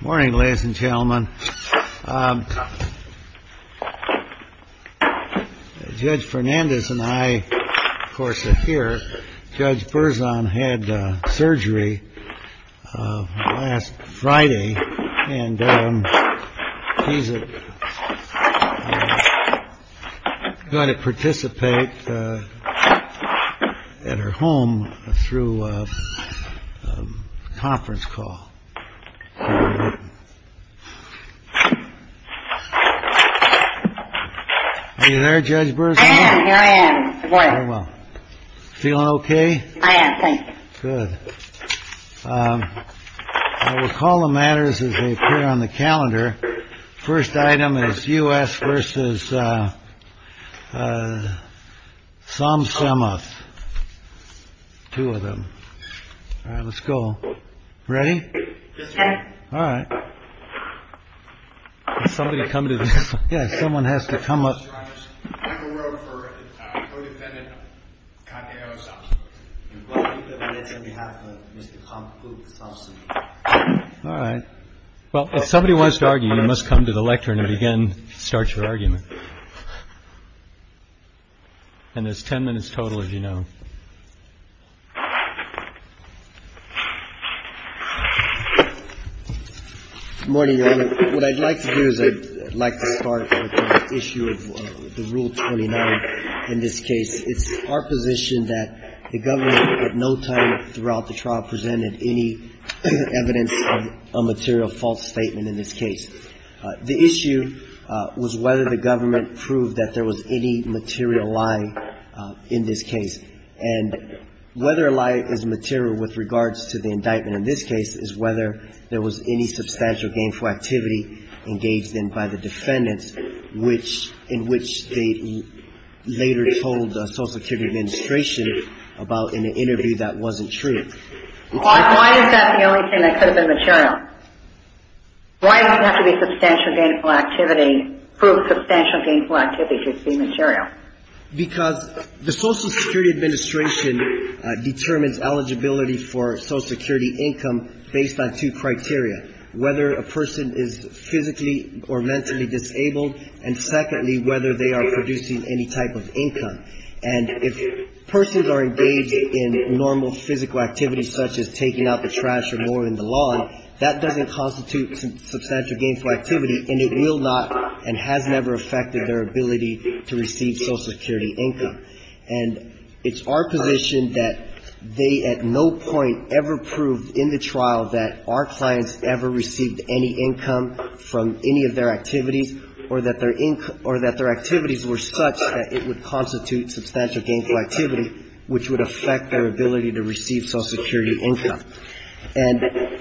Morning, ladies and gentlemen. Judge Fernandez and I, of course, are here. Judge Burzon had surgery last Friday and he's going to participate at her home through a conference call. Are you there, Judge Burzon? I am, here I am. Feeling OK? I am, thank you. Good. I will call the matters as they appear on the calendar. First item is U.S. v. Somsamouth. Two of them. Let's go. Ready? All right. Somebody come to this. Yes, someone has to come up. All right. Well, if somebody wants to argue, you must come to the lectern and again start your argument. And there's ten minutes total, as you know. Good morning, Your Honor. What I'd like to do is I'd like to start with the issue of the Rule 29 in this case. It's our position that the government at no time throughout the trial presented any evidence of a material false statement in this case. The issue was whether the government proved that there was any material lie in this case. And whether a lie is material with regards to the indictment in this case is whether there was any substantial gainful activity engaged in by the defendants, which in which they later told the Social Security Administration about in an interview that wasn't true. Why is that the only thing that could have been material? Why does it have to be substantial gainful activity to prove substantial gainful activity to be material? Because the Social Security Administration determines eligibility for Social Security income based on two criteria, whether a person is physically or mentally disabled, and secondly, whether they are producing any type of income. And if persons are engaged in normal physical activities such as taking out the trash or mowing the lawn, that doesn't constitute substantial gainful activity, and it will not and has never affected their ability to receive Social Security income. And it's our position that they at no point ever proved in the trial that our clients ever received any income from any of their activities or that their activities were such that it would constitute substantial gainful activity, which would affect their ability to receive Social Security income. And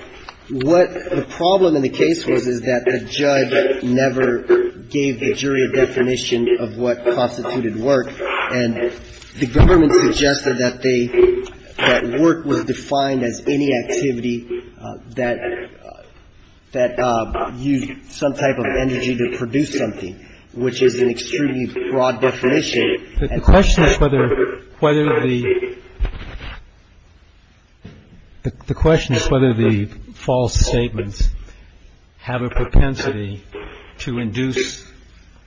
what the problem in the case was is that the judge never gave the jury a definition of what constituted work, and the government suggested that they, that work was defined as any activity that used some type of energy to produce something, which is an extremely broad definition. And the question is whether, whether the question is whether the false statements have a propensity to induce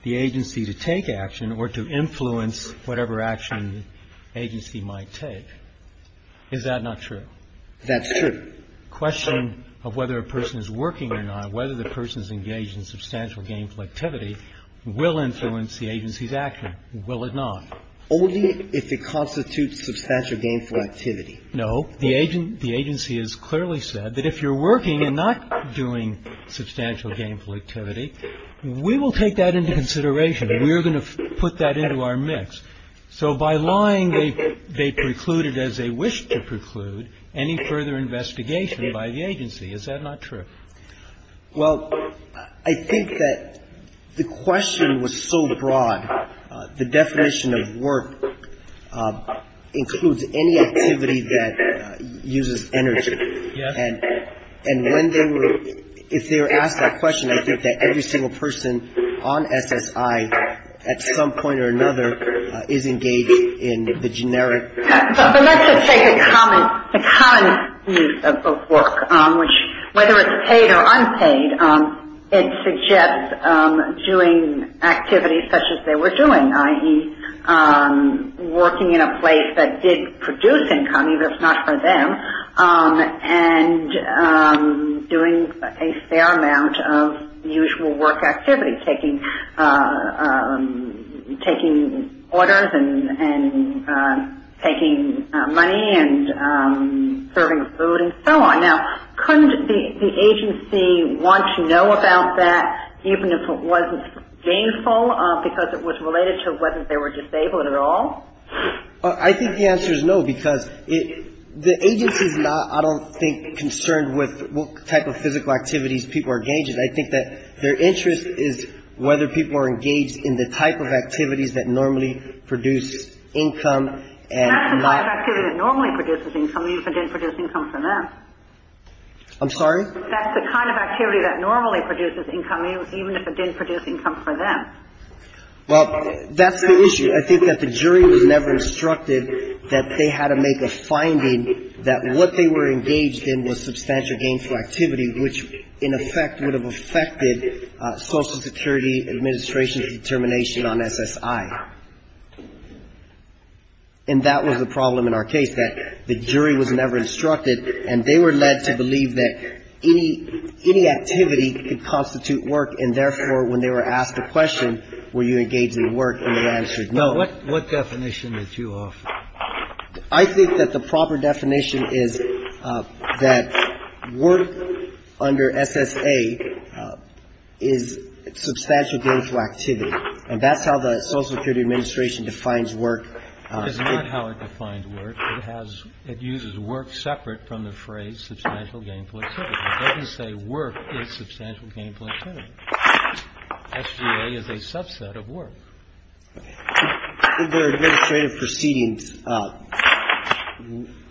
the agency to take action or to influence whatever action the agency might take. Is that not true? That's true. The question of whether a person is working or not, whether the person is engaged in substantial gainful activity, will influence the agency's action. Will it not? Only if it constitutes substantial gainful activity. No. The agency has clearly said that if you're working and not doing substantial gainful activity, we will take that into consideration. We are going to put that into our mix. So by lying, they precluded, as they wished to preclude, any further investigation by the agency. Is that not true? Well, I think that the question was so broad, the definition of work includes any activity that uses energy. Yes. And when they were, if they were asked that question, I think that every single person on SSI, at some point or another, is engaged in the generic. But let's just take a common use of the word, which, whether it's paid or unpaid, it suggests doing activities such as they were doing, i.e., working in a place that did produce income, even if not for them, and doing a fair amount of usual work activity, taking orders and taking money and serving food and so on. Now, couldn't the agency want to know about that, even if it wasn't gainful, because it was related to whether they were disabled at all? I think the answer is no, because it, the agency's not, I don't think, concerned with what type of physical activities people are engaged in. I think that their interest is whether people are engaged in the type of activities that normally produce income and not That's the kind of activity that normally produces income, even if it didn't produce income for them. I'm sorry? That's the kind of activity that normally produces income, even if it didn't produce income for them. Well, that's the issue. I think that the jury was never instructed that they had to make a finding that what they were engaged in was substantial gainful activity, which, in effect, would have affected Social Security Administration's determination on SSI. And that was the problem in our case, that the jury was never instructed, and they were led to believe that any activity could constitute work, and therefore, when they were asked a question, were you engaged in work, and the answer is no. Now, what definition did you offer? I think that the proper definition is that work under SSA is substantial gainful activity. And that's how the Social Security Administration defines work. It's not how it defines work. It uses work separate from the phrase substantial gainful activity. It doesn't say work is substantial gainful activity. SGA is a subset of work. Under administrative proceedings,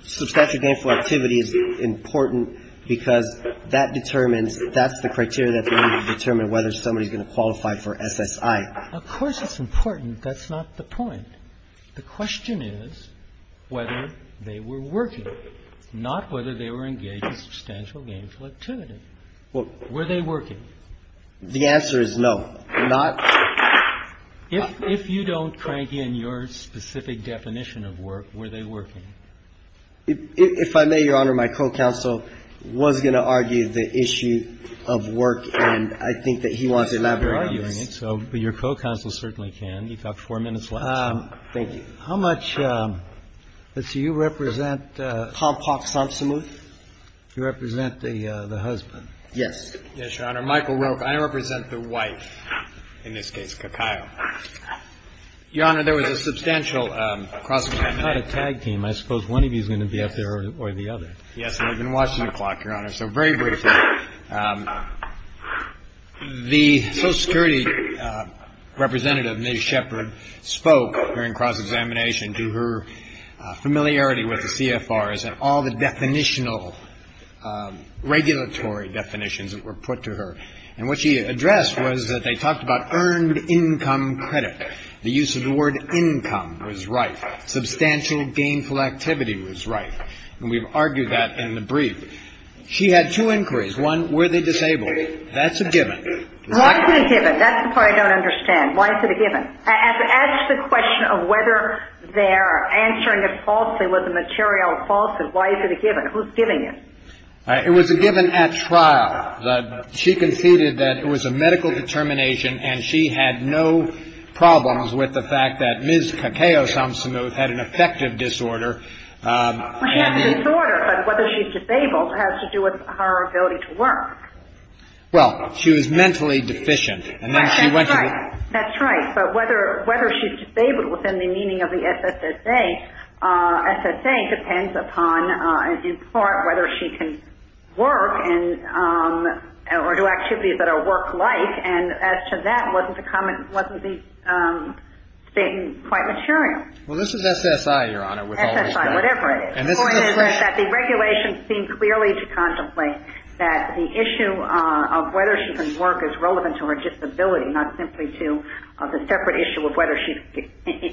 substantial gainful activity is important because that determines that's the criteria that's going to determine whether somebody's going to qualify for SSI. Of course it's important. That's not the point. The question is whether they were working, not whether they were engaged in substantial gainful activity. Were they working? The answer is no. If you don't crank in your specific definition of work, were they working? If I may, Your Honor, my co-counsel was going to argue the issue of work, and I think that he wants elaborate arguments. So your co-counsel certainly can. You've got four minutes left. Thank you. How much do you represent? Paul Park Sonsomeuth. You represent the husband. Yes. Yes, Your Honor. Michael Roke. I represent the wife, in this case, Kakao. Your Honor, there was a substantial cross-examination. It's not a tag team. Yes, and I've been watching the clock, Your Honor. So very briefly, the Social Security representative, Ms. Shepard, spoke during cross-examination to her familiarity with the CFRs and all the definitional regulatory definitions that were put to her. And what she addressed was that they talked about earned income credit. The use of the word income was right. Substantial gainful activity was right. And we've argued that in the brief. She had two inquiries. One, were they disabled? That's a given. Why is it a given? That's the part I don't understand. Why is it a given? As to the question of whether they're answering it falsely, was the material falsely, why is it a given? Who's giving it? It was a given at trial. She conceded that it was a medical determination, and she had no problems with the fact that Ms. Kakao Sonsomeuth had an affective disorder. She had a disorder, but whether she's disabled has to do with her ability to work. Well, she was mentally deficient. That's right. But whether she's disabled within the meaning of the SSA, SSA depends upon, in part, whether she can work or do activities that are work-like. And as to that, wasn't the statement quite material? Well, this is SSI, Your Honor, with all respect. SSI, whatever it is. The point is that the regulations seem clearly to contemplate that the issue of whether she can work is relevant to her disability, not simply to the separate issue of whether she's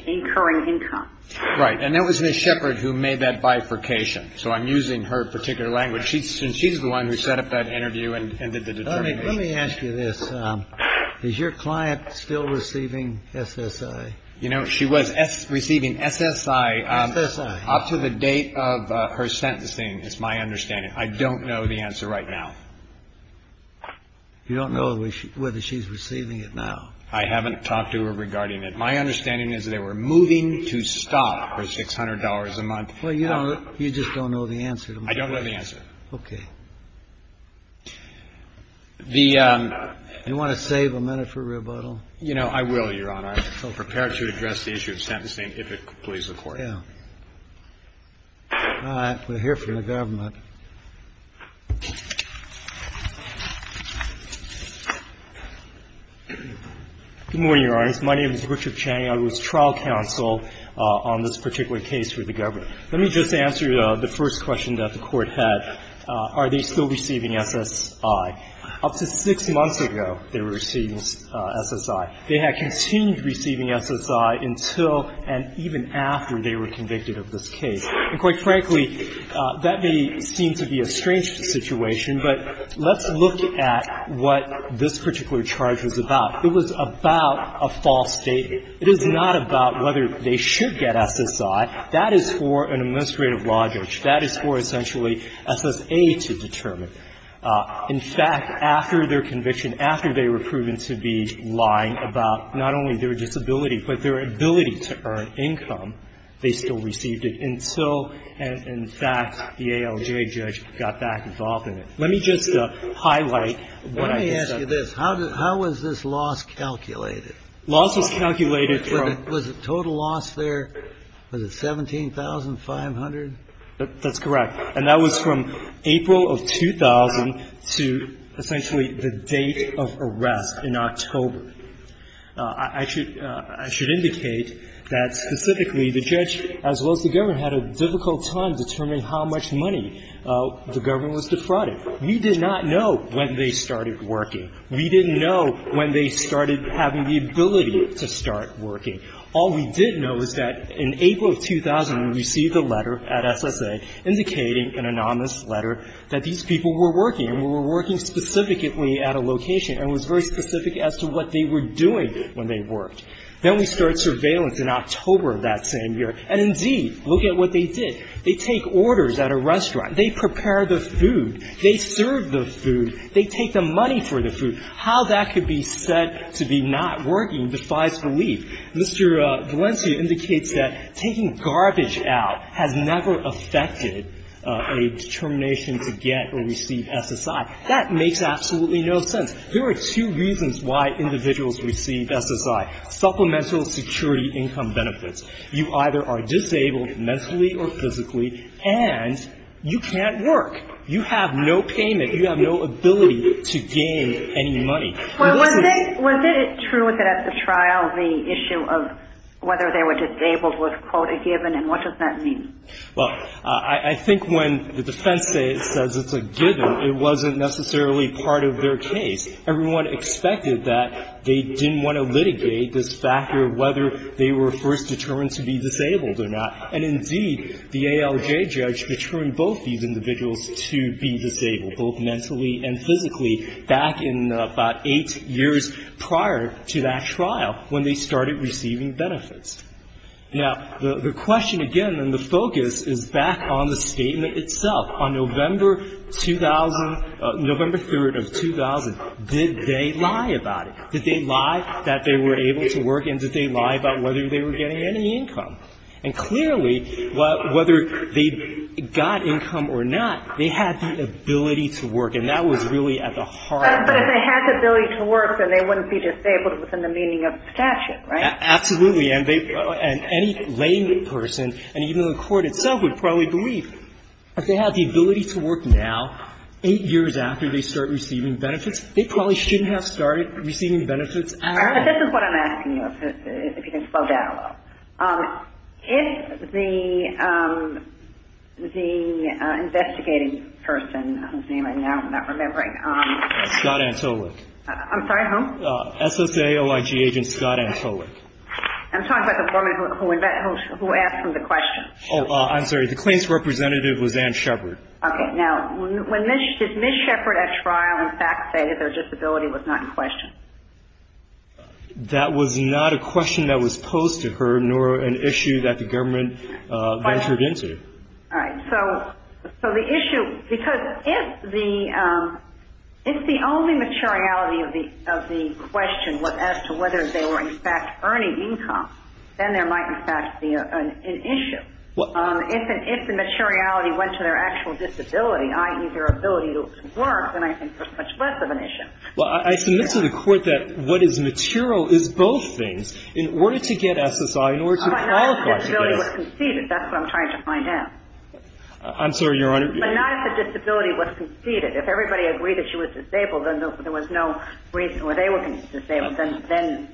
incurring income. Right. And that was Ms. Shepard who made that bifurcation, so I'm using her particular language. She's the one who set up that interview and did the determination. Let me ask you this. Is your client still receiving SSI? You know, she was receiving SSI. SSI. Up to the date of her sentencing is my understanding. I don't know the answer right now. You don't know whether she's receiving it now? I haven't talked to her regarding it. My understanding is they were moving to stop her $600 a month. Well, you just don't know the answer to my question. I don't know the answer. Okay. Do you want to save a minute for rebuttal? You know, I will, Your Honor. So prepare to address the issue of sentencing if it pleases the Court. Yeah. All right. We'll hear from the government. Good morning, Your Honor. My name is Richard Chang. I was trial counsel on this particular case for the government. Let me just answer the first question that the Court had. Are they still receiving SSI? Up to six months ago, they were receiving SSI. They had continued receiving SSI until and even after they were convicted of this case. And quite frankly, that may seem to be a strange situation, but let's look at what this particular charge was about. It was about a false statement. It is not about whether they should get SSI. That is for an administrative law judge. That is for essentially SSA to determine. In fact, after their conviction, after they were proven to be lying about not only their disability but their ability to earn income, they still received it until, in fact, the ALJ judge got back involved in it. Let me just highlight what I just said. Let me ask you this. How was this loss calculated? Loss was calculated from — Was the total loss there, was it 17,500? That's correct. And that was from April of 2000 to essentially the date of arrest in October. I should indicate that specifically the judge, as well as the government, had a difficult time determining how much money the government was defrauding. We did not know when they started working. We didn't know when they started having the ability to start working. All we did know is that in April of 2000, we received a letter at SSA indicating an anonymous letter that these people were working and were working specifically at a location and was very specific as to what they were doing when they worked. Then we started surveillance in October of that same year. And indeed, look at what they did. They take orders at a restaurant. They prepare the food. They serve the food. They take the money for the food. How that could be said to be not working defies belief. Mr. Valencia indicates that taking garbage out has never affected a determination to get or receive SSI. That makes absolutely no sense. There are two reasons why individuals receive SSI. Supplemental security income benefits. You either are disabled mentally or physically, and you can't work. You have no payment. You have no ability to gain any money. Was it true that at the trial the issue of whether they were disabled was, quote, a given, and what does that mean? Well, I think when the defense says it's a given, it wasn't necessarily part of their case. Everyone expected that they didn't want to litigate this factor of whether they were first determined to be disabled or not. And indeed, the ALJ judge determined both these individuals to be disabled, both mentally and physically, back in about eight years prior to that trial when they started receiving benefits. Now, the question again, and the focus is back on the statement itself. On November 2000, November 3rd of 2000, did they lie about it? Did they lie that they were able to work, and did they lie about whether they were getting any income? And clearly, whether they got income or not, they had the ability to work. And that was really at the heart of it. But if they had the ability to work, then they wouldn't be disabled within the meaning of the statute, right? Absolutely. And any layperson, and even the Court itself would probably believe, if they had the ability to work now, eight years after they start receiving benefits, they probably shouldn't have started receiving benefits at all. But this is what I'm asking you, if you can slow down a little. If the investigating person, whose name I now am not remembering. Scott Antolik. I'm sorry, who? SSAOIG agent Scott Antolik. I'm talking about the woman who asked him the question. Oh, I'm sorry. The claims representative was Ann Shepard. Okay. Now, did Ms. Shepard, at trial, in fact say that their disability was not in question? That was not a question that was posed to her, nor an issue that the government ventured into. All right. So the issue, because if the only materiality of the question was as to whether they were, in fact, earning income, then there might, in fact, be an issue. If the materiality went to their actual disability, i.e., their ability to work, then I think there's much less of an issue. Well, I submit to the Court that what is material is both things. In order to get SSI, in order to qualify for this. But not if the disability was conceded. That's what I'm trying to find out. I'm sorry, Your Honor. But not if the disability was conceded. If everybody agreed that she was disabled, and there was no reason why they were disabled, then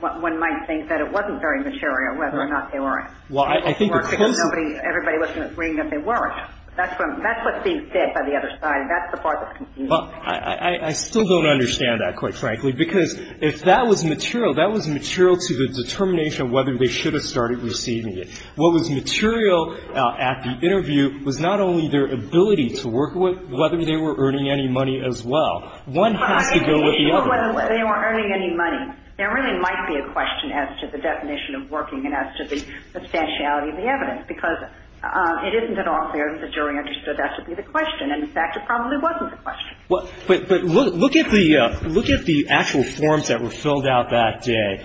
one might think that it wasn't very material, whether or not they were. Well, I think the question. Everybody wasn't agreeing that they weren't. That's what's being said by the other side. That's the part that's conceded. Well, I still don't understand that, quite frankly, because if that was material, that was material to the determination of whether they should have started receiving it. What was material at the interview was not only their ability to work, but whether they were earning any money as well. One has to go with the other. Well, whether they were earning any money. There really might be a question as to the definition of working and as to the substantiality of the evidence, because it isn't at all clear that the jury understood that to be the question. And, in fact, it probably wasn't the question. But look at the actual forms that were filled out that day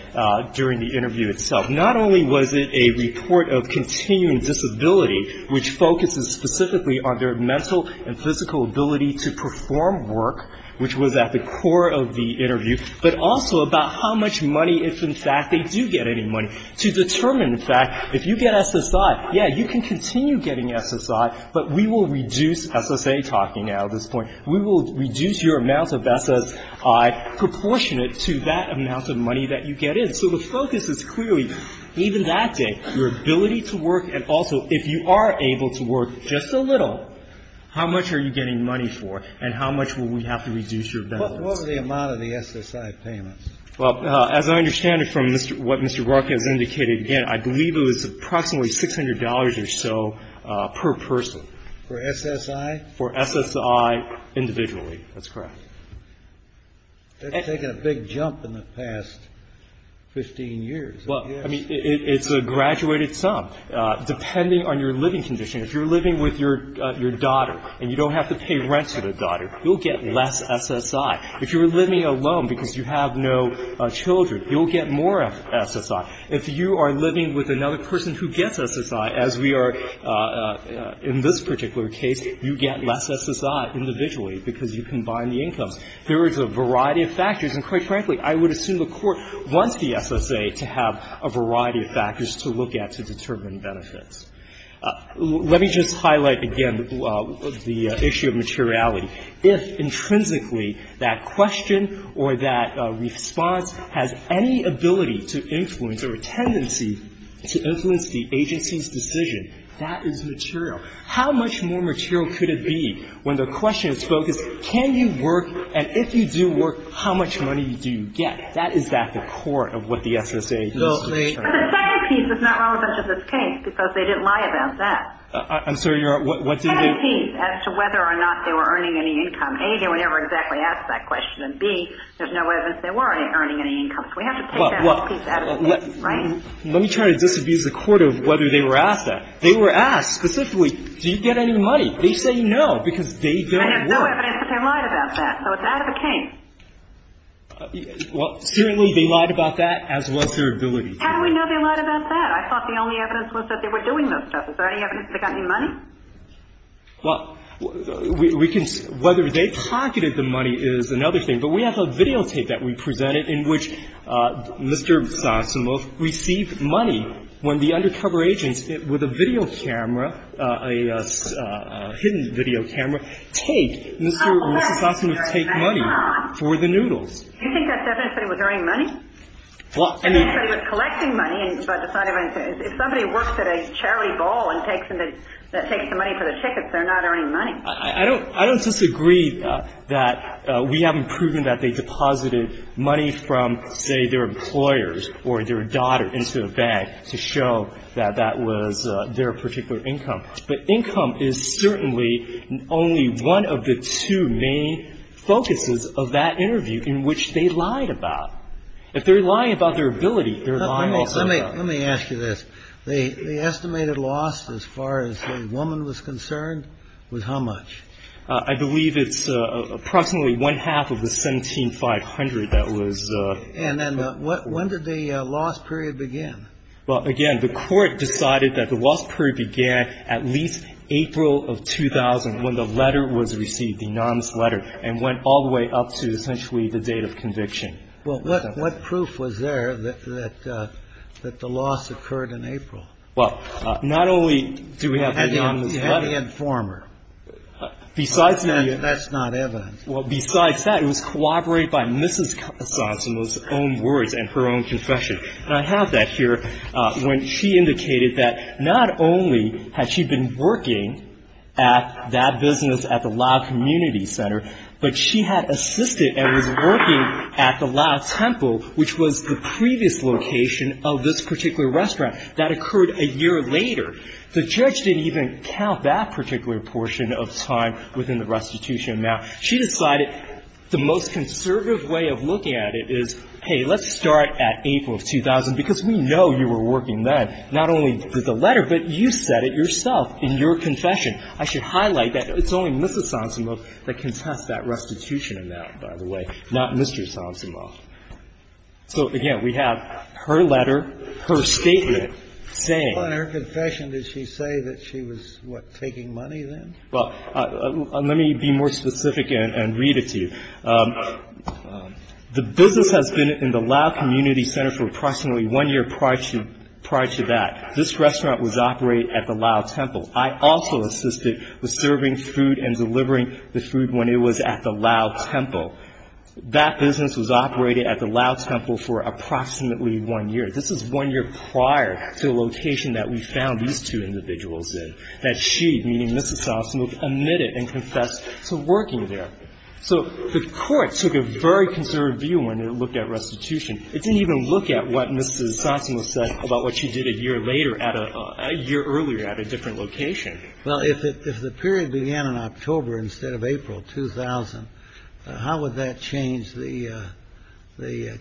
during the interview itself. Not only was it a report of continuing disability, which focuses specifically on their mental and physical ability to perform work, which was at the core of the interview, but also about how much money, if, in fact, they do get any money, to determine, in fact, if you get SSI, yeah, you can continue getting SSI, but we will reduce SSA, talking now at this point. We will reduce your amount of SSI proportionate to that amount of money that you get in. So the focus is clearly, even that day, your ability to work, and also if you are able to work just a little, how much are you getting money for and how much will we have to reduce your benefits? What was the amount of the SSI payments? Well, as I understand it from what Mr. Barker has indicated, again, I believe it was approximately $600 or so per person. For SSI? For SSI individually. That's correct. That's taken a big jump in the past 15 years. Well, I mean, it's a graduated sum. Depending on your living condition, if you're living with your daughter and you don't have to pay rent to the daughter, you'll get less SSI. If you're living alone because you have no children, you'll get more SSI. If you are living with another person who gets SSI, as we are in this particular case, you get less SSI individually because you combine the incomes. There is a variety of factors, and quite frankly, I would assume the Court wants the SSA to have a variety of factors to look at to determine benefits. Let me just highlight again the issue of materiality. If intrinsically that question or that response has any ability to influence or a tendency to influence the agency's decision, that is material. How much more material could it be when the question is focused, can you work, and if you do work, how much money do you get? That is at the core of what the SSA is looking for. But the second piece is not relevant to this case because they didn't lie about that. I'm sorry, Your Honor. What's in there? Any piece as to whether or not they were earning any income. A, they were never exactly asked that question, and B, there's no evidence they were earning any income. So we have to take that piece out of the case, right? Let me try to disabuse the Court of whether they were asked that. They were asked specifically, do you get any money? They say no because they don't work. And there's no evidence that they lied about that, so it's out of the case. Well, certainly they lied about that, as was their ability. How do we know they lied about that? I thought the only evidence was that they were doing those stuff. Is there any evidence they got any money? Well, we can see whether they pocketed the money is another thing. But we have a videotape that we presented in which Mr. Sosimoff received money when the undercover agents with a video camera, a hidden video camera, take Mr. Sosimoff's money for the noodles. Do you think that's evidence that he was earning money? Well, I mean. I don't disagree that we haven't proven that they deposited money from, say, their employers or their daughter into the bank to show that that was their particular income. But income is certainly only one of the two main focuses of that interview in which they lied about. If they're lying about their ability, they're lying also about their ability. The estimated loss, as far as the woman was concerned, was how much? I believe it's approximately one-half of the $17,500 that was. And then when did the loss period begin? Well, again, the Court decided that the loss period began at least April of 2000, when the letter was received, the anonymous letter, and went all the way up to essentially the date of conviction. Well, what proof was there that the loss occurred in April? Well, not only do we have the anonymous letter. Had the informer. Besides the informer. That's not evidence. Well, besides that, it was corroborated by Mrs. Cosimoff's own words and her own confession. And I have that here, when she indicated that not only had she been working at that business at the Lau Community Center, but she had assisted and was working at the Lau Temple, which was the previous location of this particular restaurant. That occurred a year later. The judge didn't even count that particular portion of time within the restitution amount. She decided the most conservative way of looking at it is, hey, let's start at April of 2000, because we know you were working then, not only with the letter, but you said it yourself in your confession. I should highlight that it's only Mrs. Cosimoff that can test that restitution amount, by the way, not Mr. Cosimoff. So, again, we have her letter, her statement saying. In her confession, did she say that she was, what, taking money then? Well, let me be more specific and read it to you. The business has been in the Lau Community Center for approximately one year prior to that. This restaurant was operated at the Lau Temple. I also assisted with serving food and delivering the food when it was at the Lau Temple. That business was operated at the Lau Temple for approximately one year. This is one year prior to the location that we found these two individuals in, that she, meaning Mrs. Cosimoff, admitted and confessed to working there. So the court took a very conservative view when it looked at restitution. It didn't even look at what Mrs. Cosimoff said about what she did a year later at a year earlier at a different location. Well, if the period began in October instead of April 2000, how would that change the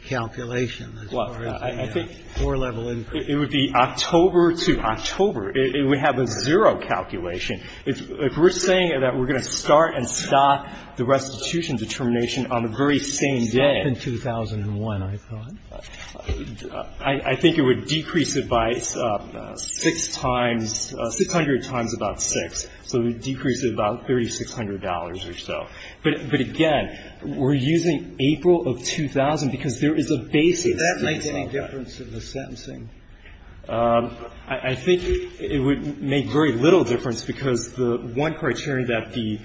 calculation as far as the four-level increase? It would be October to October. It would have a zero calculation. If we're saying that we're going to start and stop the restitution determination on the very same day. Stop in 2001, I thought. I think it would decrease it by six times, 600 times about six. So it would decrease it about $3,600 or so. But again, we're using April of 2000 because there is a basis. Did that make any difference in the sentencing? I think it would make very little difference because the one criterion that the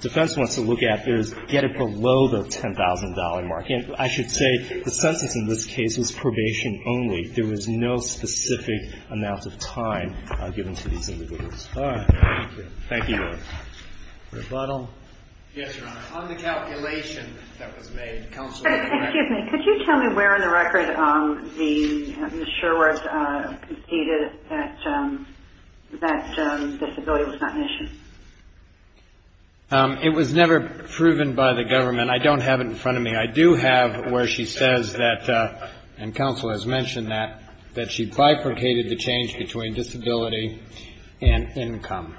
defense wants to look at is get it below the $10,000 mark. I should say the sentence in this case was probation only. There was no specific amount of time given to these individuals. All right. Thank you. Thank you both. Rebuttal? Yes, Your Honor. On the calculation that was made, counsel. Excuse me. Could you tell me where in the record Ms. Sherworth conceded that that disability was not an issue? It was never proven by the government. I don't have it in front of me. I do have where she says that, and counsel has mentioned that, that she bifurcated the change between disability and income.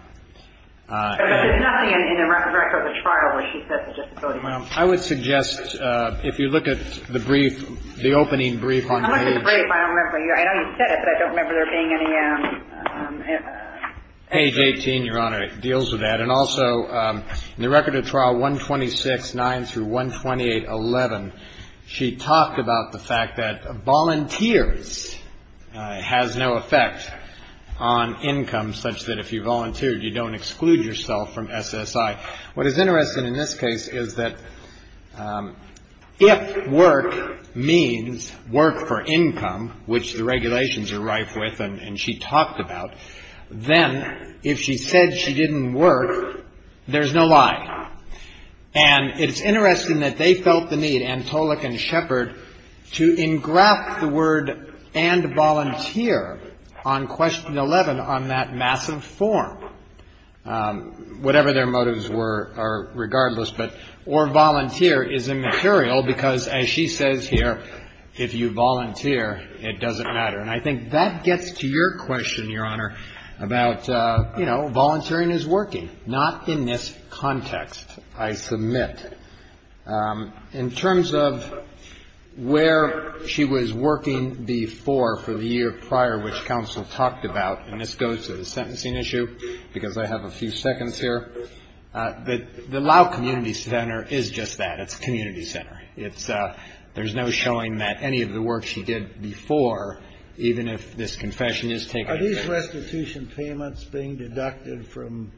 But there's nothing in the record of the trial where she said the disability was not an issue. I would suggest if you look at the brief, the opening brief on the age. I don't remember the brief. I know you said it, but I don't remember there being any. Age 18, Your Honor. It deals with that. And also in the record of trial 126-9 through 128-11, she talked about the fact that volunteers has no effect on income such that if you volunteered, you don't exclude yourself from SSI. What is interesting in this case is that if work means work for income, which the lie. And it's interesting that they felt the need, Antolik and Shepard, to engraft the word and volunteer on question 11 on that massive form, whatever their motives were or regardless. But or volunteer is immaterial because as she says here, if you volunteer, it doesn't matter. And I think that gets to your question, Your Honor, about, you know, volunteering is working. Not in this context, I submit. In terms of where she was working before for the year prior, which counsel talked about, and this goes to the sentencing issue because I have a few seconds here, the Lau Community Center is just that. It's a community center. It's no showing that any of the work she did before, even if this confession is taken at face value. Are these restitution payments being deducted from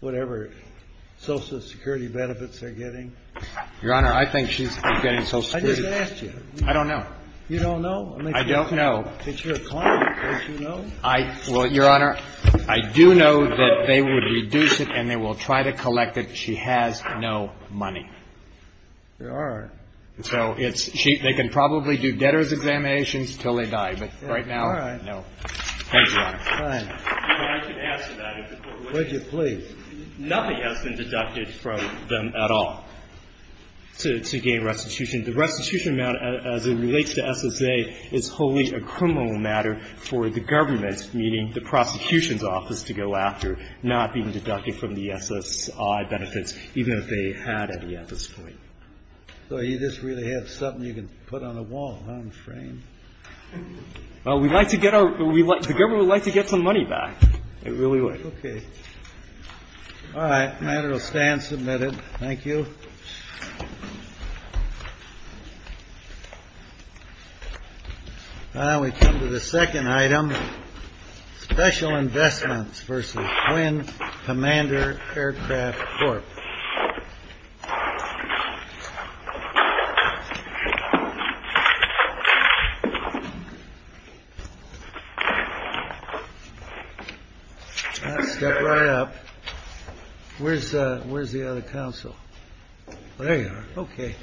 whatever Social Security benefits they're getting? Your Honor, I think she's getting Social Security. I just asked you. I don't know. You don't know? I don't know. It's your client. Don't you know? Well, Your Honor, I do know that they would reduce it and they will try to collect it. She has no money. There are. So it's cheap. They can probably do debtors' examinations until they die. But right now, no. Thank you, Your Honor. But I could ask about it. Would you please? Nothing has been deducted from them at all to gain restitution. The restitution amount, as it relates to SSA, is wholly a criminal matter for the government, meaning the prosecution's office, to go after, not being deducted from the SSI benefits, even if they had any at this point. So you just really have something you can put on a wall, on a frame. Well, we'd like to get our, we'd like, the government would like to get some money back. It really would. Okay. All right. The matter will stand submitted. Thank you. Now we come to the second item. Special investments versus Quinn Commander Aircraft Corp. Step right up. Where's the other counsel? There you are. Okay.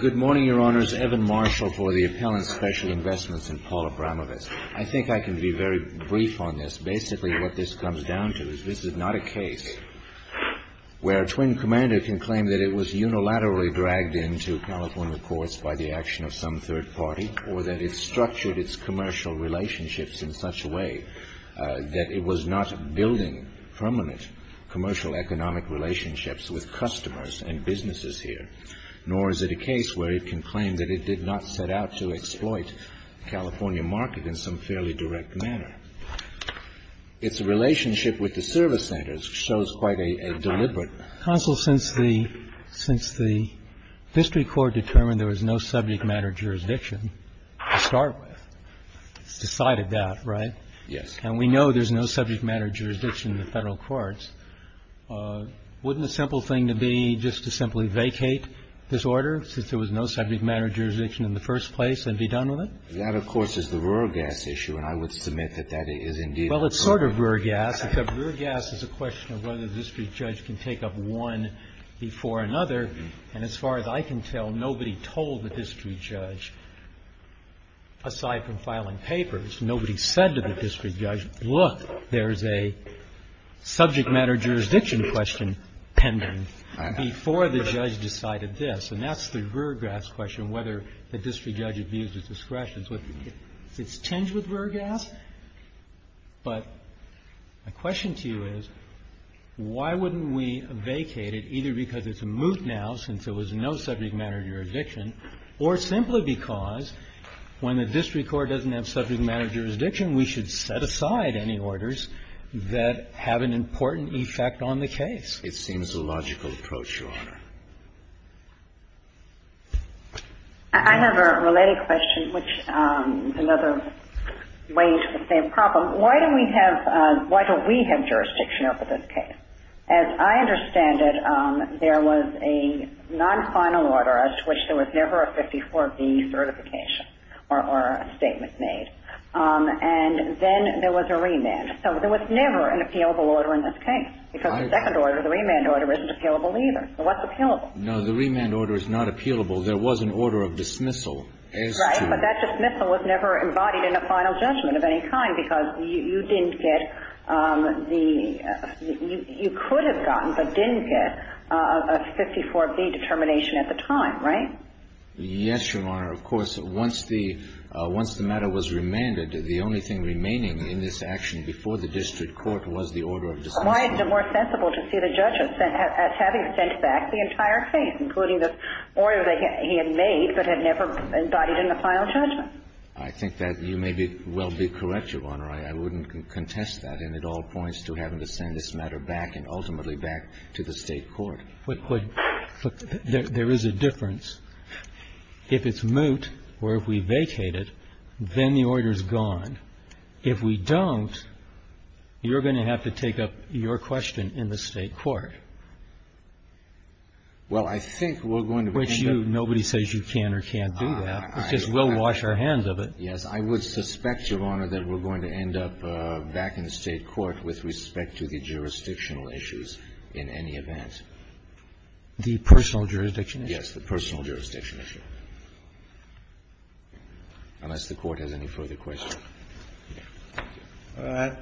Good morning, Your Honors. Evan Marshall for the Appellant Special Investments and Paula Bramavis. I think I can be very brief on this. Basically what this comes down to is this is not a case where a twin commander can claim that it was unilaterally dragged into California courts by the action of some third party or that it structured its commercial relationships in such a way that it was not building permanent commercial economic relationships with customers and businesses here. Nor is it a case where it can claim that it did not set out to exploit the California market in some fairly direct manner. Its relationship with the service centers shows quite a deliberate. Counsel, since the district court determined there was no subject matter jurisdiction to start with, it's decided that, right? Yes. And we know there's no subject matter jurisdiction in the Federal courts. Wouldn't a simple thing to be just to simply vacate this order, since there was no subject matter jurisdiction in the first place, and be done with it? That, of course, is the rural gas issue, and I would submit that that is indeed the case. Well, it's sort of rural gas, except rural gas is a question of whether the district judge can take up one before another. And as far as I can tell, nobody told the district judge, aside from filing papers, nobody said to the district judge, look, there's a subject matter jurisdiction question pending, before the judge decided this. And that's the rural gas question, whether the district judge abused his discretion. It's tinged with rural gas. But my question to you is, why wouldn't we vacate it, either because it's moot now, since there was no subject matter jurisdiction, or simply because when the district court doesn't have subject matter jurisdiction, we should set aside any orders that have an important effect on the case? It seems a logical approach, Your Honor. I have a related question, which is another way to sustain the problem. Why don't we have jurisdiction over this case? As I understand it, there was a non-final order, as to which there was never a 54B certification or a statement made. And then there was a remand. So there was never an appealable order in this case, because the second order, the remand order is not appealable. No, the remand order is not appealable. There was an order of dismissal, as to – Right, but that dismissal was never embodied in a final judgment of any kind, because you didn't get the – you could have gotten, but didn't get a 54B determination at the time, right? Yes, Your Honor. Of course, once the matter was remanded, the only thing remaining in this action before the district court was the order of dismissal. Why is it more sensible to see the judge as having sent back the entire case, including the order that he had made, but had never embodied in the final judgment? I think that you may well be correct, Your Honor. I wouldn't contest that. And it all points to having to send this matter back and ultimately back to the state court. But there is a difference. If it's moot, or if we vacate it, then the order is gone. If we don't, you're going to have to take up your question in the state court. Well, I think we're going to end up – Which nobody says you can or can't do that, because we'll wash our hands of it. Yes, I would suspect, Your Honor, that we're going to end up back in the state court with respect to the jurisdictional issues in any event. The personal jurisdiction issue? Yes, the personal jurisdiction issue, unless the Court has any further questions. All right.